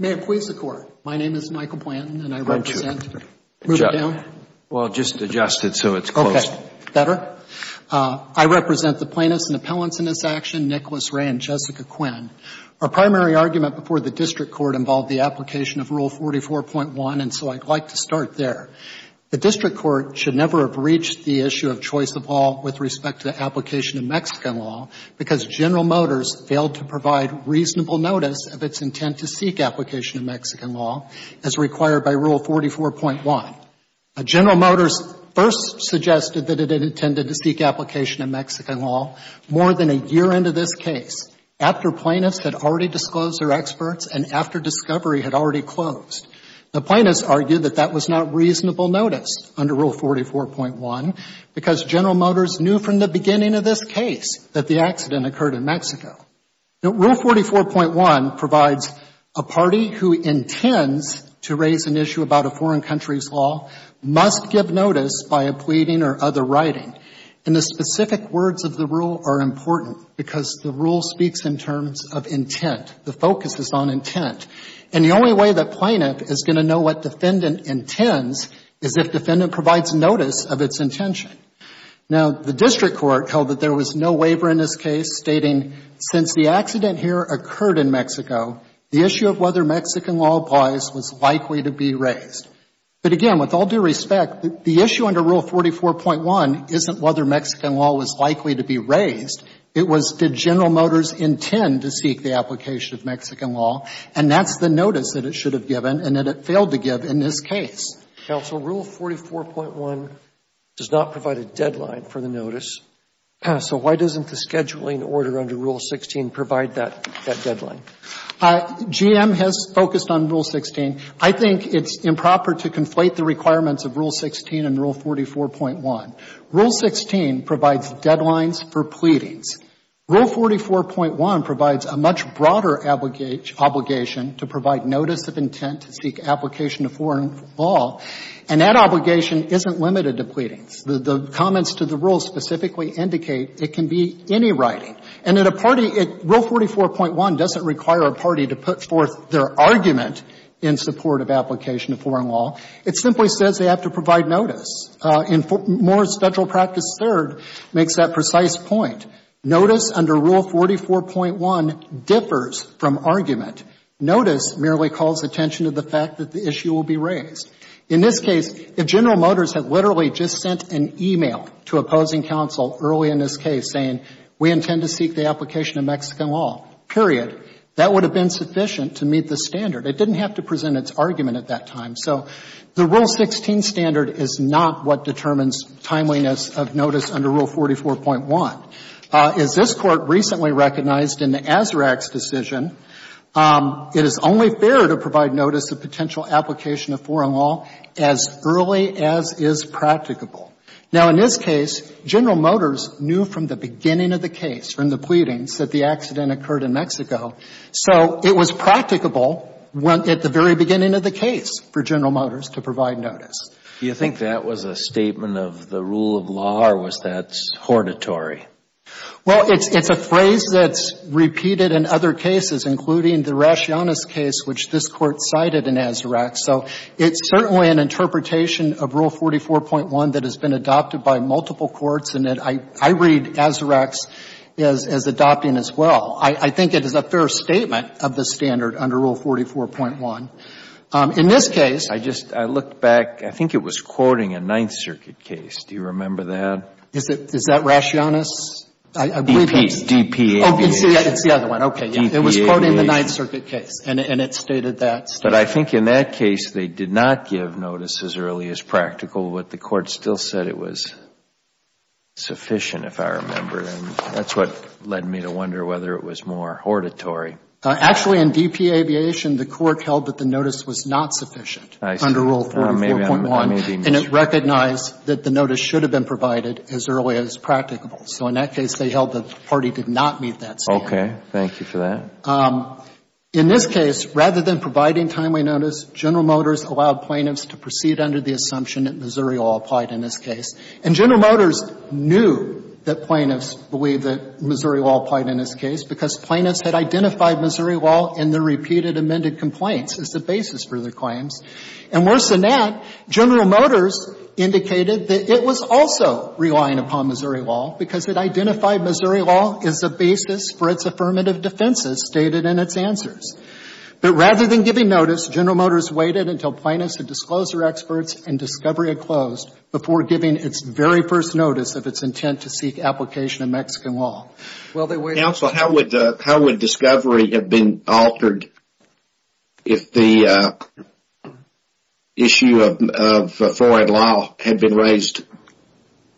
May it please the Court, my name is Michael Blanton, and I represent the Plaintiffs and Appellants in this action, Nicholas Rey and Jessica Quinn. Our primary argument before the District Court involved the application of Rule 44.1, and so I'd like to start there. The District Court should never have reached the issue of choice of law with respect to application of Mexican law because General Motors failed to provide reasonable notice of its intent to seek application of Mexican law as required by Rule 44.1. General Motors first suggested that it had intended to seek application of Mexican law more than a year into this case, after plaintiffs had already disclosed their experts and after discovery had already closed. The plaintiffs argued that that was not reasonable notice under Rule 44.1 because General Motors knew from the beginning of this case that the accident occurred in Mexico. Now, Rule 44.1 provides a party who intends to raise an issue about a foreign country's law must give notice by a pleading or other writing. And the specific words of the rule are important because the rule speaks in terms of intent. The focus is on intent. And the intention. Now, the District Court held that there was no waiver in this case stating since the accident here occurred in Mexico, the issue of whether Mexican law applies was likely to be raised. But again, with all due respect, the issue under Rule 44.1 isn't whether Mexican law was likely to be raised. It was did General Motors intend to seek the application of Mexican law. And that's the notice that it should have given and that it failed to give in this case. Counsel, Rule 44.1 does not provide a deadline for the notice. So why doesn't the scheduling order under Rule 16 provide that deadline? GM has focused on Rule 16. I think it's improper to conflate the requirements of Rule 16 and Rule 44.1. Rule 16 provides deadlines for pleadings. Rule 44.1 provides a much broader obligation to provide notice of intent to seek application of foreign law. And that obligation isn't limited to pleadings. The comments to the rule specifically indicate it can be any writing. And at a party, Rule 44.1 doesn't require a party to put forth their argument in support of application of foreign law. It simply says they have to provide notice. And Moore's Federal Practice Third makes that precise point. Notice under Rule 44.1 differs from argument. Notice merely calls attention to the fact that the issue will be raised. In this case, if General Motors had literally just sent an e-mail to opposing counsel early in this case saying, we intend to seek the application of Mexican law, period, that would have been sufficient to meet the standard. It didn't have to present its argument at that time. So the Rule 16 standard is not what determines timeliness of notice under Rule 44.1. As this Court recently recognized in the Azarax decision, it is only fair to provide notice of potential application of foreign law as early as is practicable. Now, in this case, General Motors knew from the beginning of the case, from the pleadings, that the accident occurred in Mexico. So it was practicable at the very beginning of the case for General Motors to provide notice. You think that was a statement of the rule of law, or was that hortatory? Well, it's a phrase that's repeated in other cases, including the Raciones case, which this Court cited in Azarax. So it's certainly an interpretation of Rule 44.1 that has been adopted by multiple courts, and that I read Azarax as adopting as well. I think it is a fair statement of the standard under Rule 44.1. In this case — I just — I looked back. I think it was quoting a Ninth Circuit case. Do you remember that? Is that Raciones? D.P. Aviation. Oh, it's the other one. Okay, yeah. It was quoting the Ninth Circuit case, and it stated that. But I think in that case, they did not give notice as early as practical, but the Court still said it was sufficient, if I remember. And that's what led me to wonder whether it was more hortatory. Actually, in D.P. Aviation, the Court held that the notice was not sufficient under Rule 44.1, and it recognized that the notice should have been provided as early as practicable. So in that case, they held that the party did not meet that standard. Okay. Thank you for that. In this case, rather than providing timely notice, General Motors allowed plaintiffs to proceed under the assumption that Missouri law applied in this case. And General Motors knew that plaintiffs believed that Missouri law applied in this case, because plaintiffs had identified Missouri law in their repeated amended complaints as the basis for their claims. And worse than that, General Motors indicated that it was also relying upon Missouri law, because it identified Missouri law as the basis for its affirmative defenses stated in its answers. But rather than giving notice, General Motors waited until plaintiffs had disclosed their experts and discovery had closed, before giving its very first notice of its intent to seek application in Mexican law. The issue of foreign law had been raised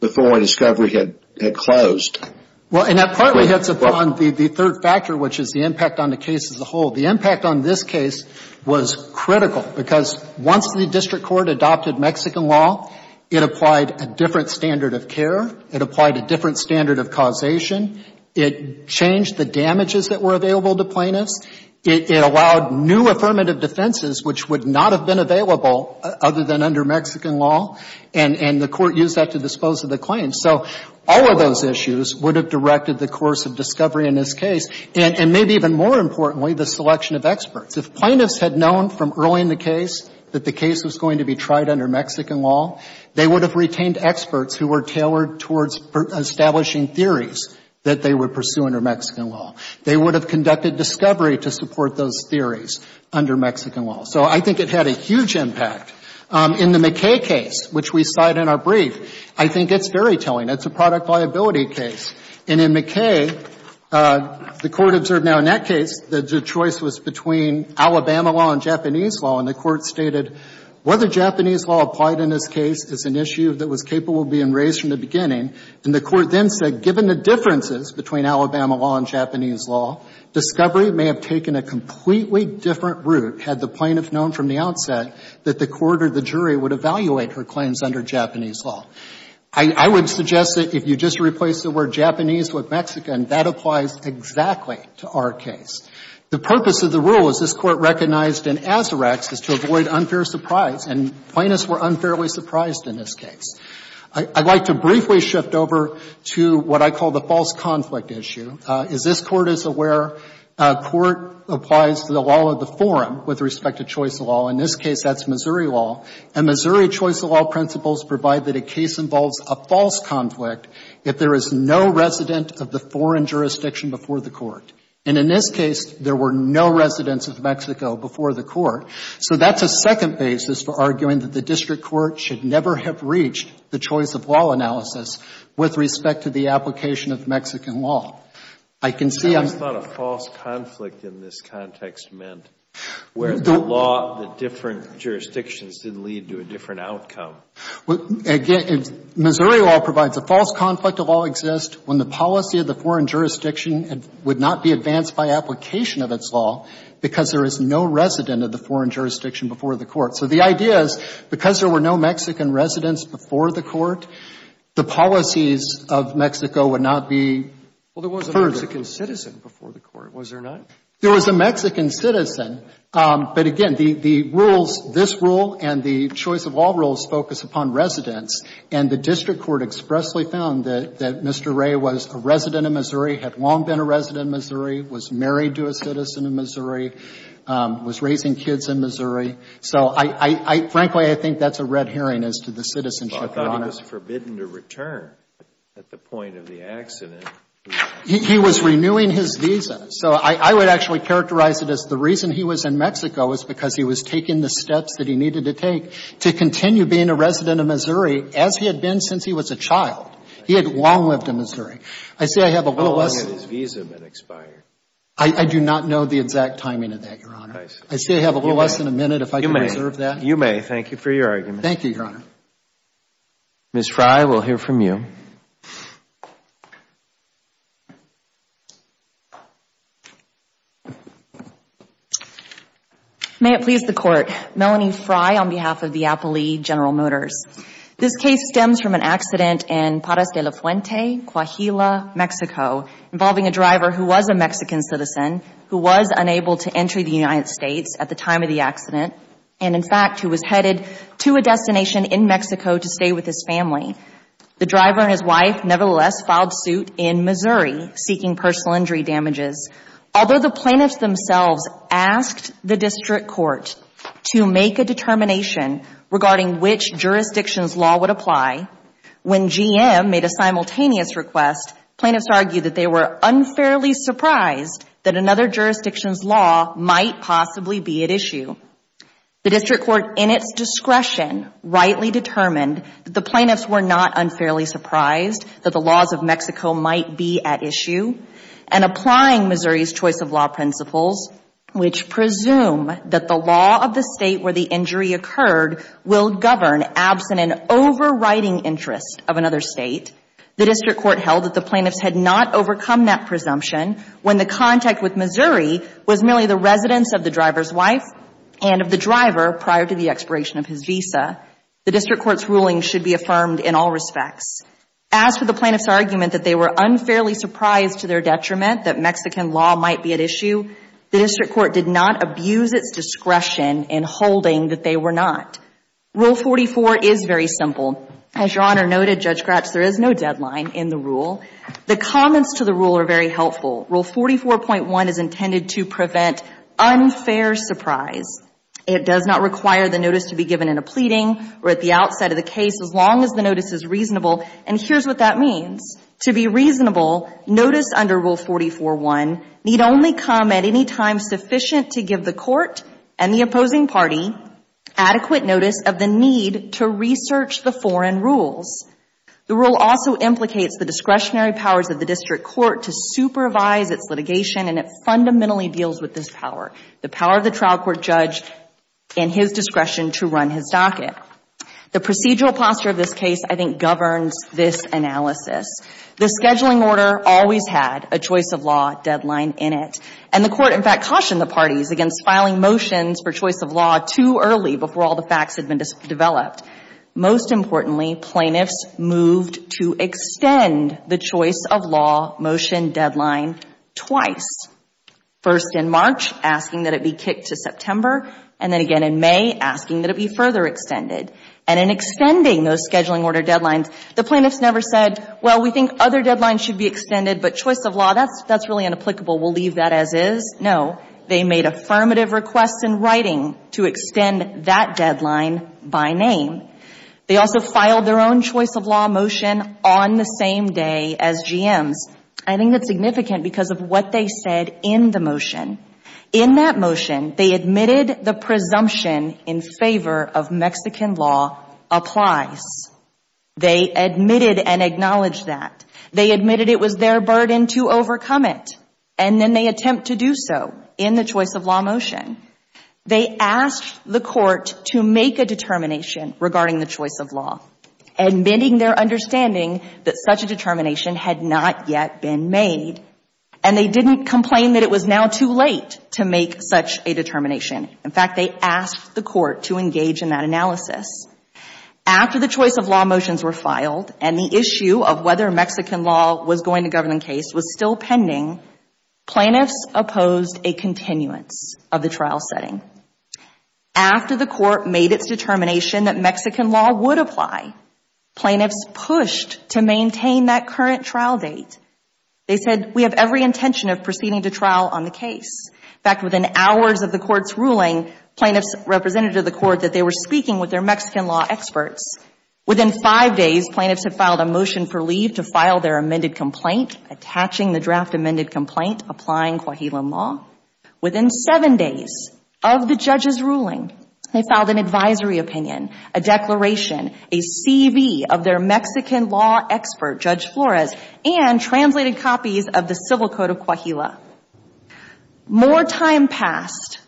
before discovery had closed. Well, and that partly hits upon the third factor, which is the impact on the case as a whole. The impact on this case was critical, because once the district court adopted Mexican law, it applied a different standard of care. It applied a different standard of causation. It changed the damages that were available to plaintiffs. It allowed new affirmative defenses, which would not have been available other than under Mexican law, and the court used that to dispose of the claims. So all of those issues would have directed the course of discovery in this case, and maybe even more importantly, the selection of experts. If plaintiffs had known from early in the case that the case was going to be tried under Mexican law, they would have retained experts who were tailored towards establishing theories that they would pursue under Mexican law. They would have had discovery to support those theories under Mexican law. So I think it had a huge impact. In the McKay case, which we cite in our brief, I think it's fairytelling. It's a product liability case. And in McKay, the Court observed now in that case that the choice was between Alabama law and Japanese law, and the Court stated whether Japanese law applied in this case is an issue that was capable of being raised from the beginning. And the Court then said, given the differences between Alabama law and Japanese law, discovery may have taken a completely different route had the plaintiff known from the outset that the court or the jury would evaluate her claims under Japanese law. I would suggest that if you just replace the word Japanese with Mexican, that applies exactly to our case. The purpose of the rule, as this Court recognized in Azarax, is to avoid unfair surprise, and plaintiffs were unfairly surprised in this case. I'd like to briefly shift over to what I call the false conflict issue. As this Court is aware, a court applies to the law of the forum with respect to choice law. In this case, that's Missouri law. And Missouri choice law principles provide that a case involves a false conflict if there is no resident of the foreign jurisdiction before the court. And in this case, there were no residents of Mexico before the court. So that's a second basis for arguing that the district court should never have reached the choice of law analysis with respect to the application of Mexican law. I can see I'm… Breyer, it's not a false conflict in this context meant, where the law, the different jurisdictions did lead to a different outcome. Well, again, Missouri law provides a false conflict of all exists when the policy of the foreign jurisdiction would not be advanced by application of its law because there is no resident of the foreign jurisdiction before the court. So the idea is because there were no Mexican residents before the court, the policies of Mexico would not be furthered. Well, there was a Mexican citizen before the court, was there not? There was a Mexican citizen. But, again, the rules, this rule and the choice of law rules focus upon residents. And the district court expressly found that Mr. Ray was a resident of Missouri, had long been a resident of Missouri, was married to a citizen of Missouri, was raising kids in Missouri. So I, frankly, I think that's a red herring as to the citizenship, Your Honor. But I thought he was forbidden to return at the point of the accident. He was renewing his visa. So I would actually characterize it as the reason he was in Mexico was because he was taking the steps that he needed to take to continue being a resident of Missouri as he had been since he was a child. He had long lived in Missouri. I say I have a little less… How long had his visa been expired? I do not know the exact timing of that, Your Honor. I say I have a little less than a minute if I could reserve that. You may. You may. Thank you for your argument. Thank you, Your Honor. Ms. Frey, we'll hear from you. May it please the Court. Melanie Frey on behalf of the Appley General Motors. This case stems from an accident in Parras de la Fuente, Coahuila, Mexico, involving a driver who was a Mexican citizen who was unable to enter the United States at the time of the accident and, in fact, who was headed to a destination in Mexico to stay with his family. The driver and his wife, nevertheless, filed suit in Missouri seeking personal injury damages. Although the plaintiffs themselves asked the district court to make a determination regarding which jurisdiction's law would apply, when GM made a simultaneous request, plaintiffs argued that they were unfairly surprised that another jurisdiction's law might possibly be at issue. The district court, in its discretion, rightly determined that the plaintiffs were not unfairly surprised that the laws of Mexico might be at issue and applying Missouri's choice of law principles, which presume that the law of the state where the injury occurred will govern absent an overriding interest of another state, the plaintiffs had not overcome that presumption when the contact with Missouri was merely the residence of the driver's wife and of the driver prior to the expiration of his visa. The district court's ruling should be affirmed in all respects. As for the plaintiffs' argument that they were unfairly surprised to their detriment that Mexican law might be at issue, the district court did not abuse its discretion in holding that they were not. Rule 44 is very simple. As Your Honor noted, Judge the comments to the rule are very helpful. Rule 44.1 is intended to prevent unfair surprise. It does not require the notice to be given in a pleading or at the outset of the case as long as the notice is reasonable. And here's what that means. To be reasonable, notice under Rule 44.1 need only come at any time sufficient to give the court and the opposing party adequate notice of the need to research the foreign rules. The rule also implicates the discretionary powers of the district court to supervise its litigation and it fundamentally deals with this power, the power of the trial court judge and his discretion to run his docket. The procedural posture of this case, I think, governs this analysis. The scheduling order always had a choice of law deadline in it. And the court, in fact, cautioned the parties against filing motions for choice of law too early before all the facts had been developed. Most importantly, plaintiffs moved to extend the choice of law motion deadline twice, first in March asking that it be kicked to September and then again in May asking that it be further extended. And in extending those scheduling order deadlines, the plaintiffs never said, well, we think other deadlines should be extended but choice of law, that's really inapplicable. We'll leave that as is. No. They made affirmative requests in writing to extend that deadline by name. They also filed their own choice of law motion on the same day as GM's. I think that's significant because of what they said in the motion. In that motion, they admitted the presumption in favor of Mexican law applies. They admitted and acknowledged that. They admitted it was their burden to overcome it and then they attempt to do so in the choice of law motion. They asked the court to make a determination regarding the choice of law, admitting their understanding that such a determination had not yet been made. And they didn't complain that it was now too late to make such a determination. In fact, they asked the court to engage in that analysis. After the choice of law motions were filed and the issue of whether Mexican law was going to govern the case was still pending, plaintiffs opposed a continuance of the trial setting. After the court made its determination that Mexican law would apply, plaintiffs pushed to maintain that current trial date. They said, we have every intention of proceeding to trial on the case. In fact, within hours of the court's ruling, plaintiffs represented to the court that they were speaking with their Mexican law experts. Within five days, plaintiffs had filed a motion for leave to file their amended complaint, attaching the draft amended complaint applying Coahuila law. Within seven days of the judge's ruling, they filed an advisory opinion, a declaration, a CV of their Mexican law expert, Judge Flores, and translated copies of the Civil Code of Coahuila. More time passed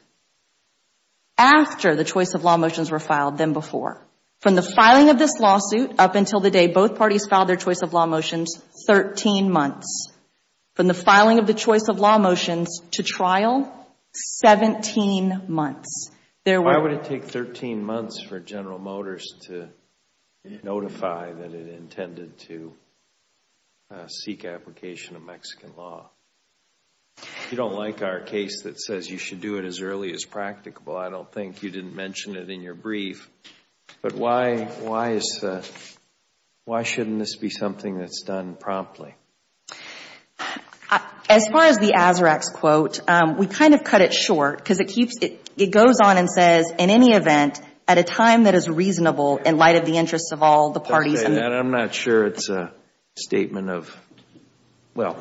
after the choice of law motions were filed than before. From the filing of this lawsuit up until the day both parties filed their choice of law motions, 13 months. From the filing of the choice of law motions to trial, 17 months. Why would it take 13 months for General Motors to notify that it intended to seek application of Mexican law? If you don't like our case that says you should do it as early as practicable, I don't think you didn't mention it in your brief, but why shouldn't this be something that's done promptly? As far as the Azarax quote, we kind of cut it short because it goes on and says, in any event, at a time that is reasonable in light of the interests of all the parties. I'm not sure it's a statement of, well,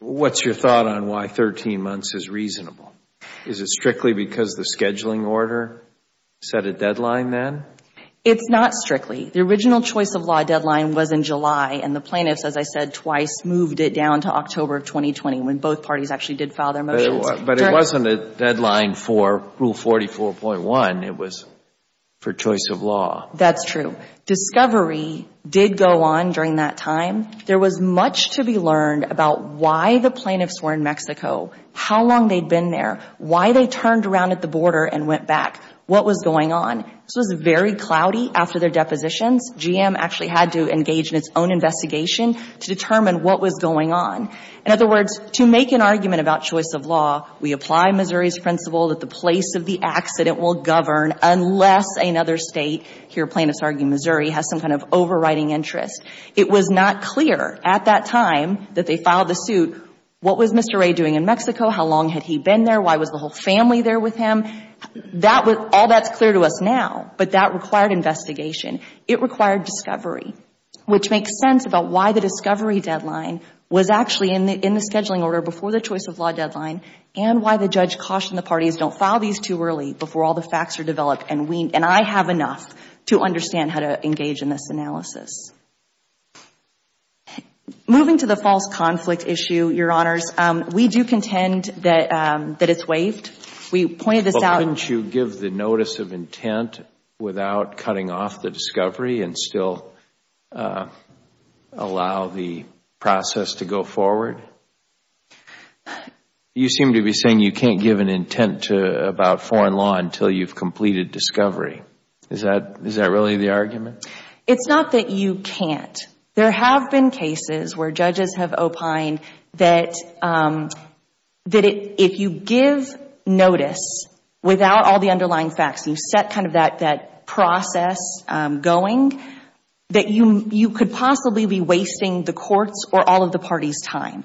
what's your thought on why 13 months is reasonable? Is it strictly because the scheduling order set a deadline then? It's not strictly. The original choice of law deadline was in July, and the plaintiffs, as I said twice, moved it down to October of 2020 when both parties actually did file their motions. But it wasn't a deadline for Rule 44.1. It was for choice of law. That's true. Discovery did go on during that time. There was much to be learned about why the plaintiffs were in Mexico, how long they'd been there, why they turned around at the border and went back, what was going on. This was very cloudy after their depositions. GM actually had to engage in its own investigation to determine what was going on. In other words, to make an argument about choice of law, we apply Missouri's principle that the place of the accident will govern unless another state, here plaintiffs argue Missouri, has some kind of overriding interest. It was not clear at that time that they filed the suit what was Mr. Ray doing in Mexico, how long had he been there, why was the whole family there with him. All that's clear to us now, but that required investigation. It required discovery, which makes sense about why the discovery deadline was actually in the scheduling order before the choice of law deadline and why the judge cautioned the parties, don't file these too early before all the facts are developed. And I have enough to understand how to engage in this analysis. Moving to the false conflict issue, Your Honors, we do contend that it's waived. But wouldn't you give the notice of intent without cutting off the discovery and still allow the process to go forward? You seem to be saying you can't give an intent about foreign law until you've completed discovery. Is that really the argument? It's not that you can't. There have been cases where judges have opined that if you give notice without all the underlying facts, you set kind of that process going, that you could possibly be wasting the court's or all of the party's time.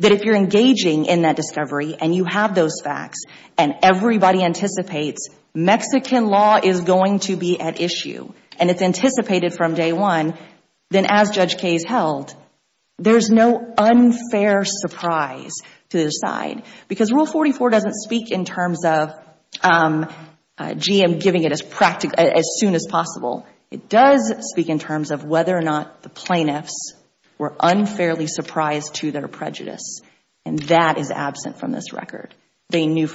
That if you're engaging in that discovery and you have those facts and everybody anticipates Mexican law is going to be at issue and it's anticipated from day one, then as Judge Case held, there's no unfair surprise to the side. Because Rule 44 doesn't speak in terms of, gee, I'm giving it as soon as possible. It does speak in terms of whether or not the plaintiffs were unfairly surprised to their prejudice. And that is absent from this record. They knew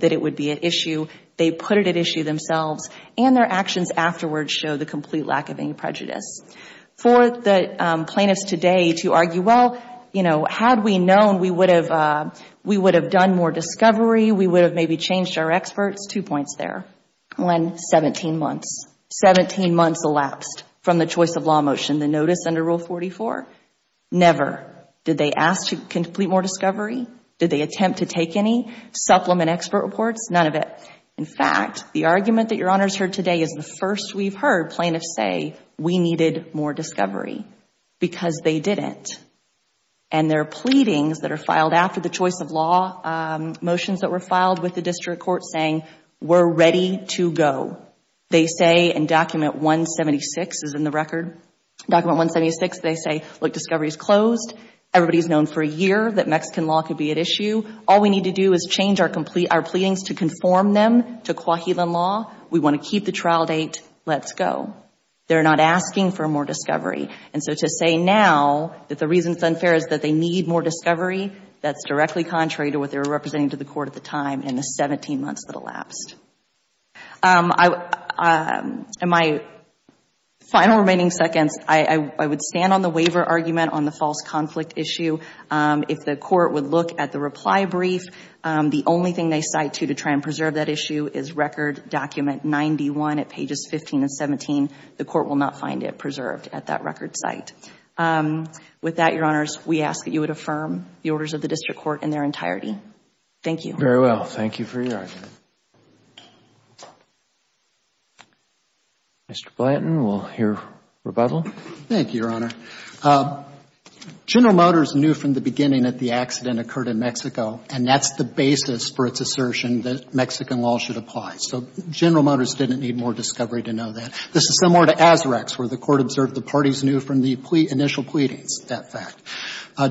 that it would be at issue. They put it at issue themselves. And their actions afterwards show the complete lack of any prejudice. For the plaintiffs today to argue, well, you know, had we known we would have done more discovery, we would have maybe changed our experts, two points there. One, 17 months. Seventeen months elapsed from the choice of law motion, the notice under Rule 44? Never. Did they ask to complete more discovery? Did they attempt to take any supplement expert reports? None of it. In fact, the argument that Your Honor has heard today is the first we've heard plaintiffs say we needed more discovery because they didn't. And their pleadings that are filed after the choice of law motions that were filed with the district court saying, we're ready to go. They say in Document 176, as in the record, Document 176, they say, look, discovery is closed. Everybody has known for a year that Mexican law could be at issue. All we need to do is change our pleadings to conform them to Coahuilan law. We want to keep the trial date. Let's go. They're not asking for more discovery. And so to say now that the reason it's unfair is that they need more discovery, that's directly contrary to what they were representing to the court at the time in the 17 months that elapsed. In my final remaining seconds, I would stand on the waiver argument on the false conflict issue. If the court would look at the reply brief, the only thing they cite to to try and preserve that issue is Record Document 91 at pages 15 and 17. The court will not find it preserved at that record site. With that, Your Honors, we ask that you would affirm the orders of the district court in their entirety. Thank you. Very well. Thank you for your argument. Mr. Blanton, we'll hear rebuttal. Thank you, Your Honor. General Motors knew from the beginning that the accident occurred in Mexico, and that's the basis for its assertion that Mexican law should apply. So General Motors didn't need more discovery to know that. This is similar to Azrax, where the court observed the parties knew from the initial pleadings that fact.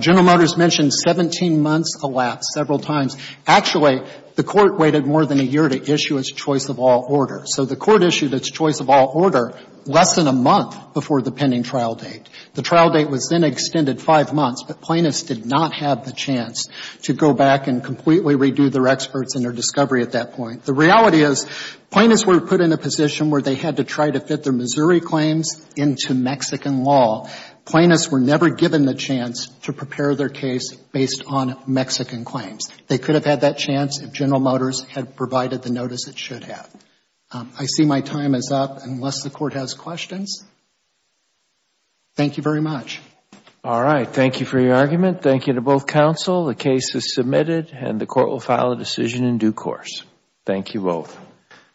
General Motors mentioned 17 months elapsed several times. Actually, the court waited more than a year to issue its choice of all order. So the court issued its choice of all order less than a month before the pending trial date. The trial date was then extended five months, but plaintiffs did not have the chance to go back and completely redo their experts and their discovery at that point. The reality is plaintiffs were put in a position where they had to try to fit their Missouri claims into Mexican law. Plaintiffs were never given the chance to prepare their case based on Mexican claims. They could have had that chance if General Motors had provided the notice it should have. I see my time is up. Unless the court has questions, thank you very much. All right. Thank you for your argument. Thank you to both counsel. The case is submitted, and the court will file a decision in due course. Thank you both.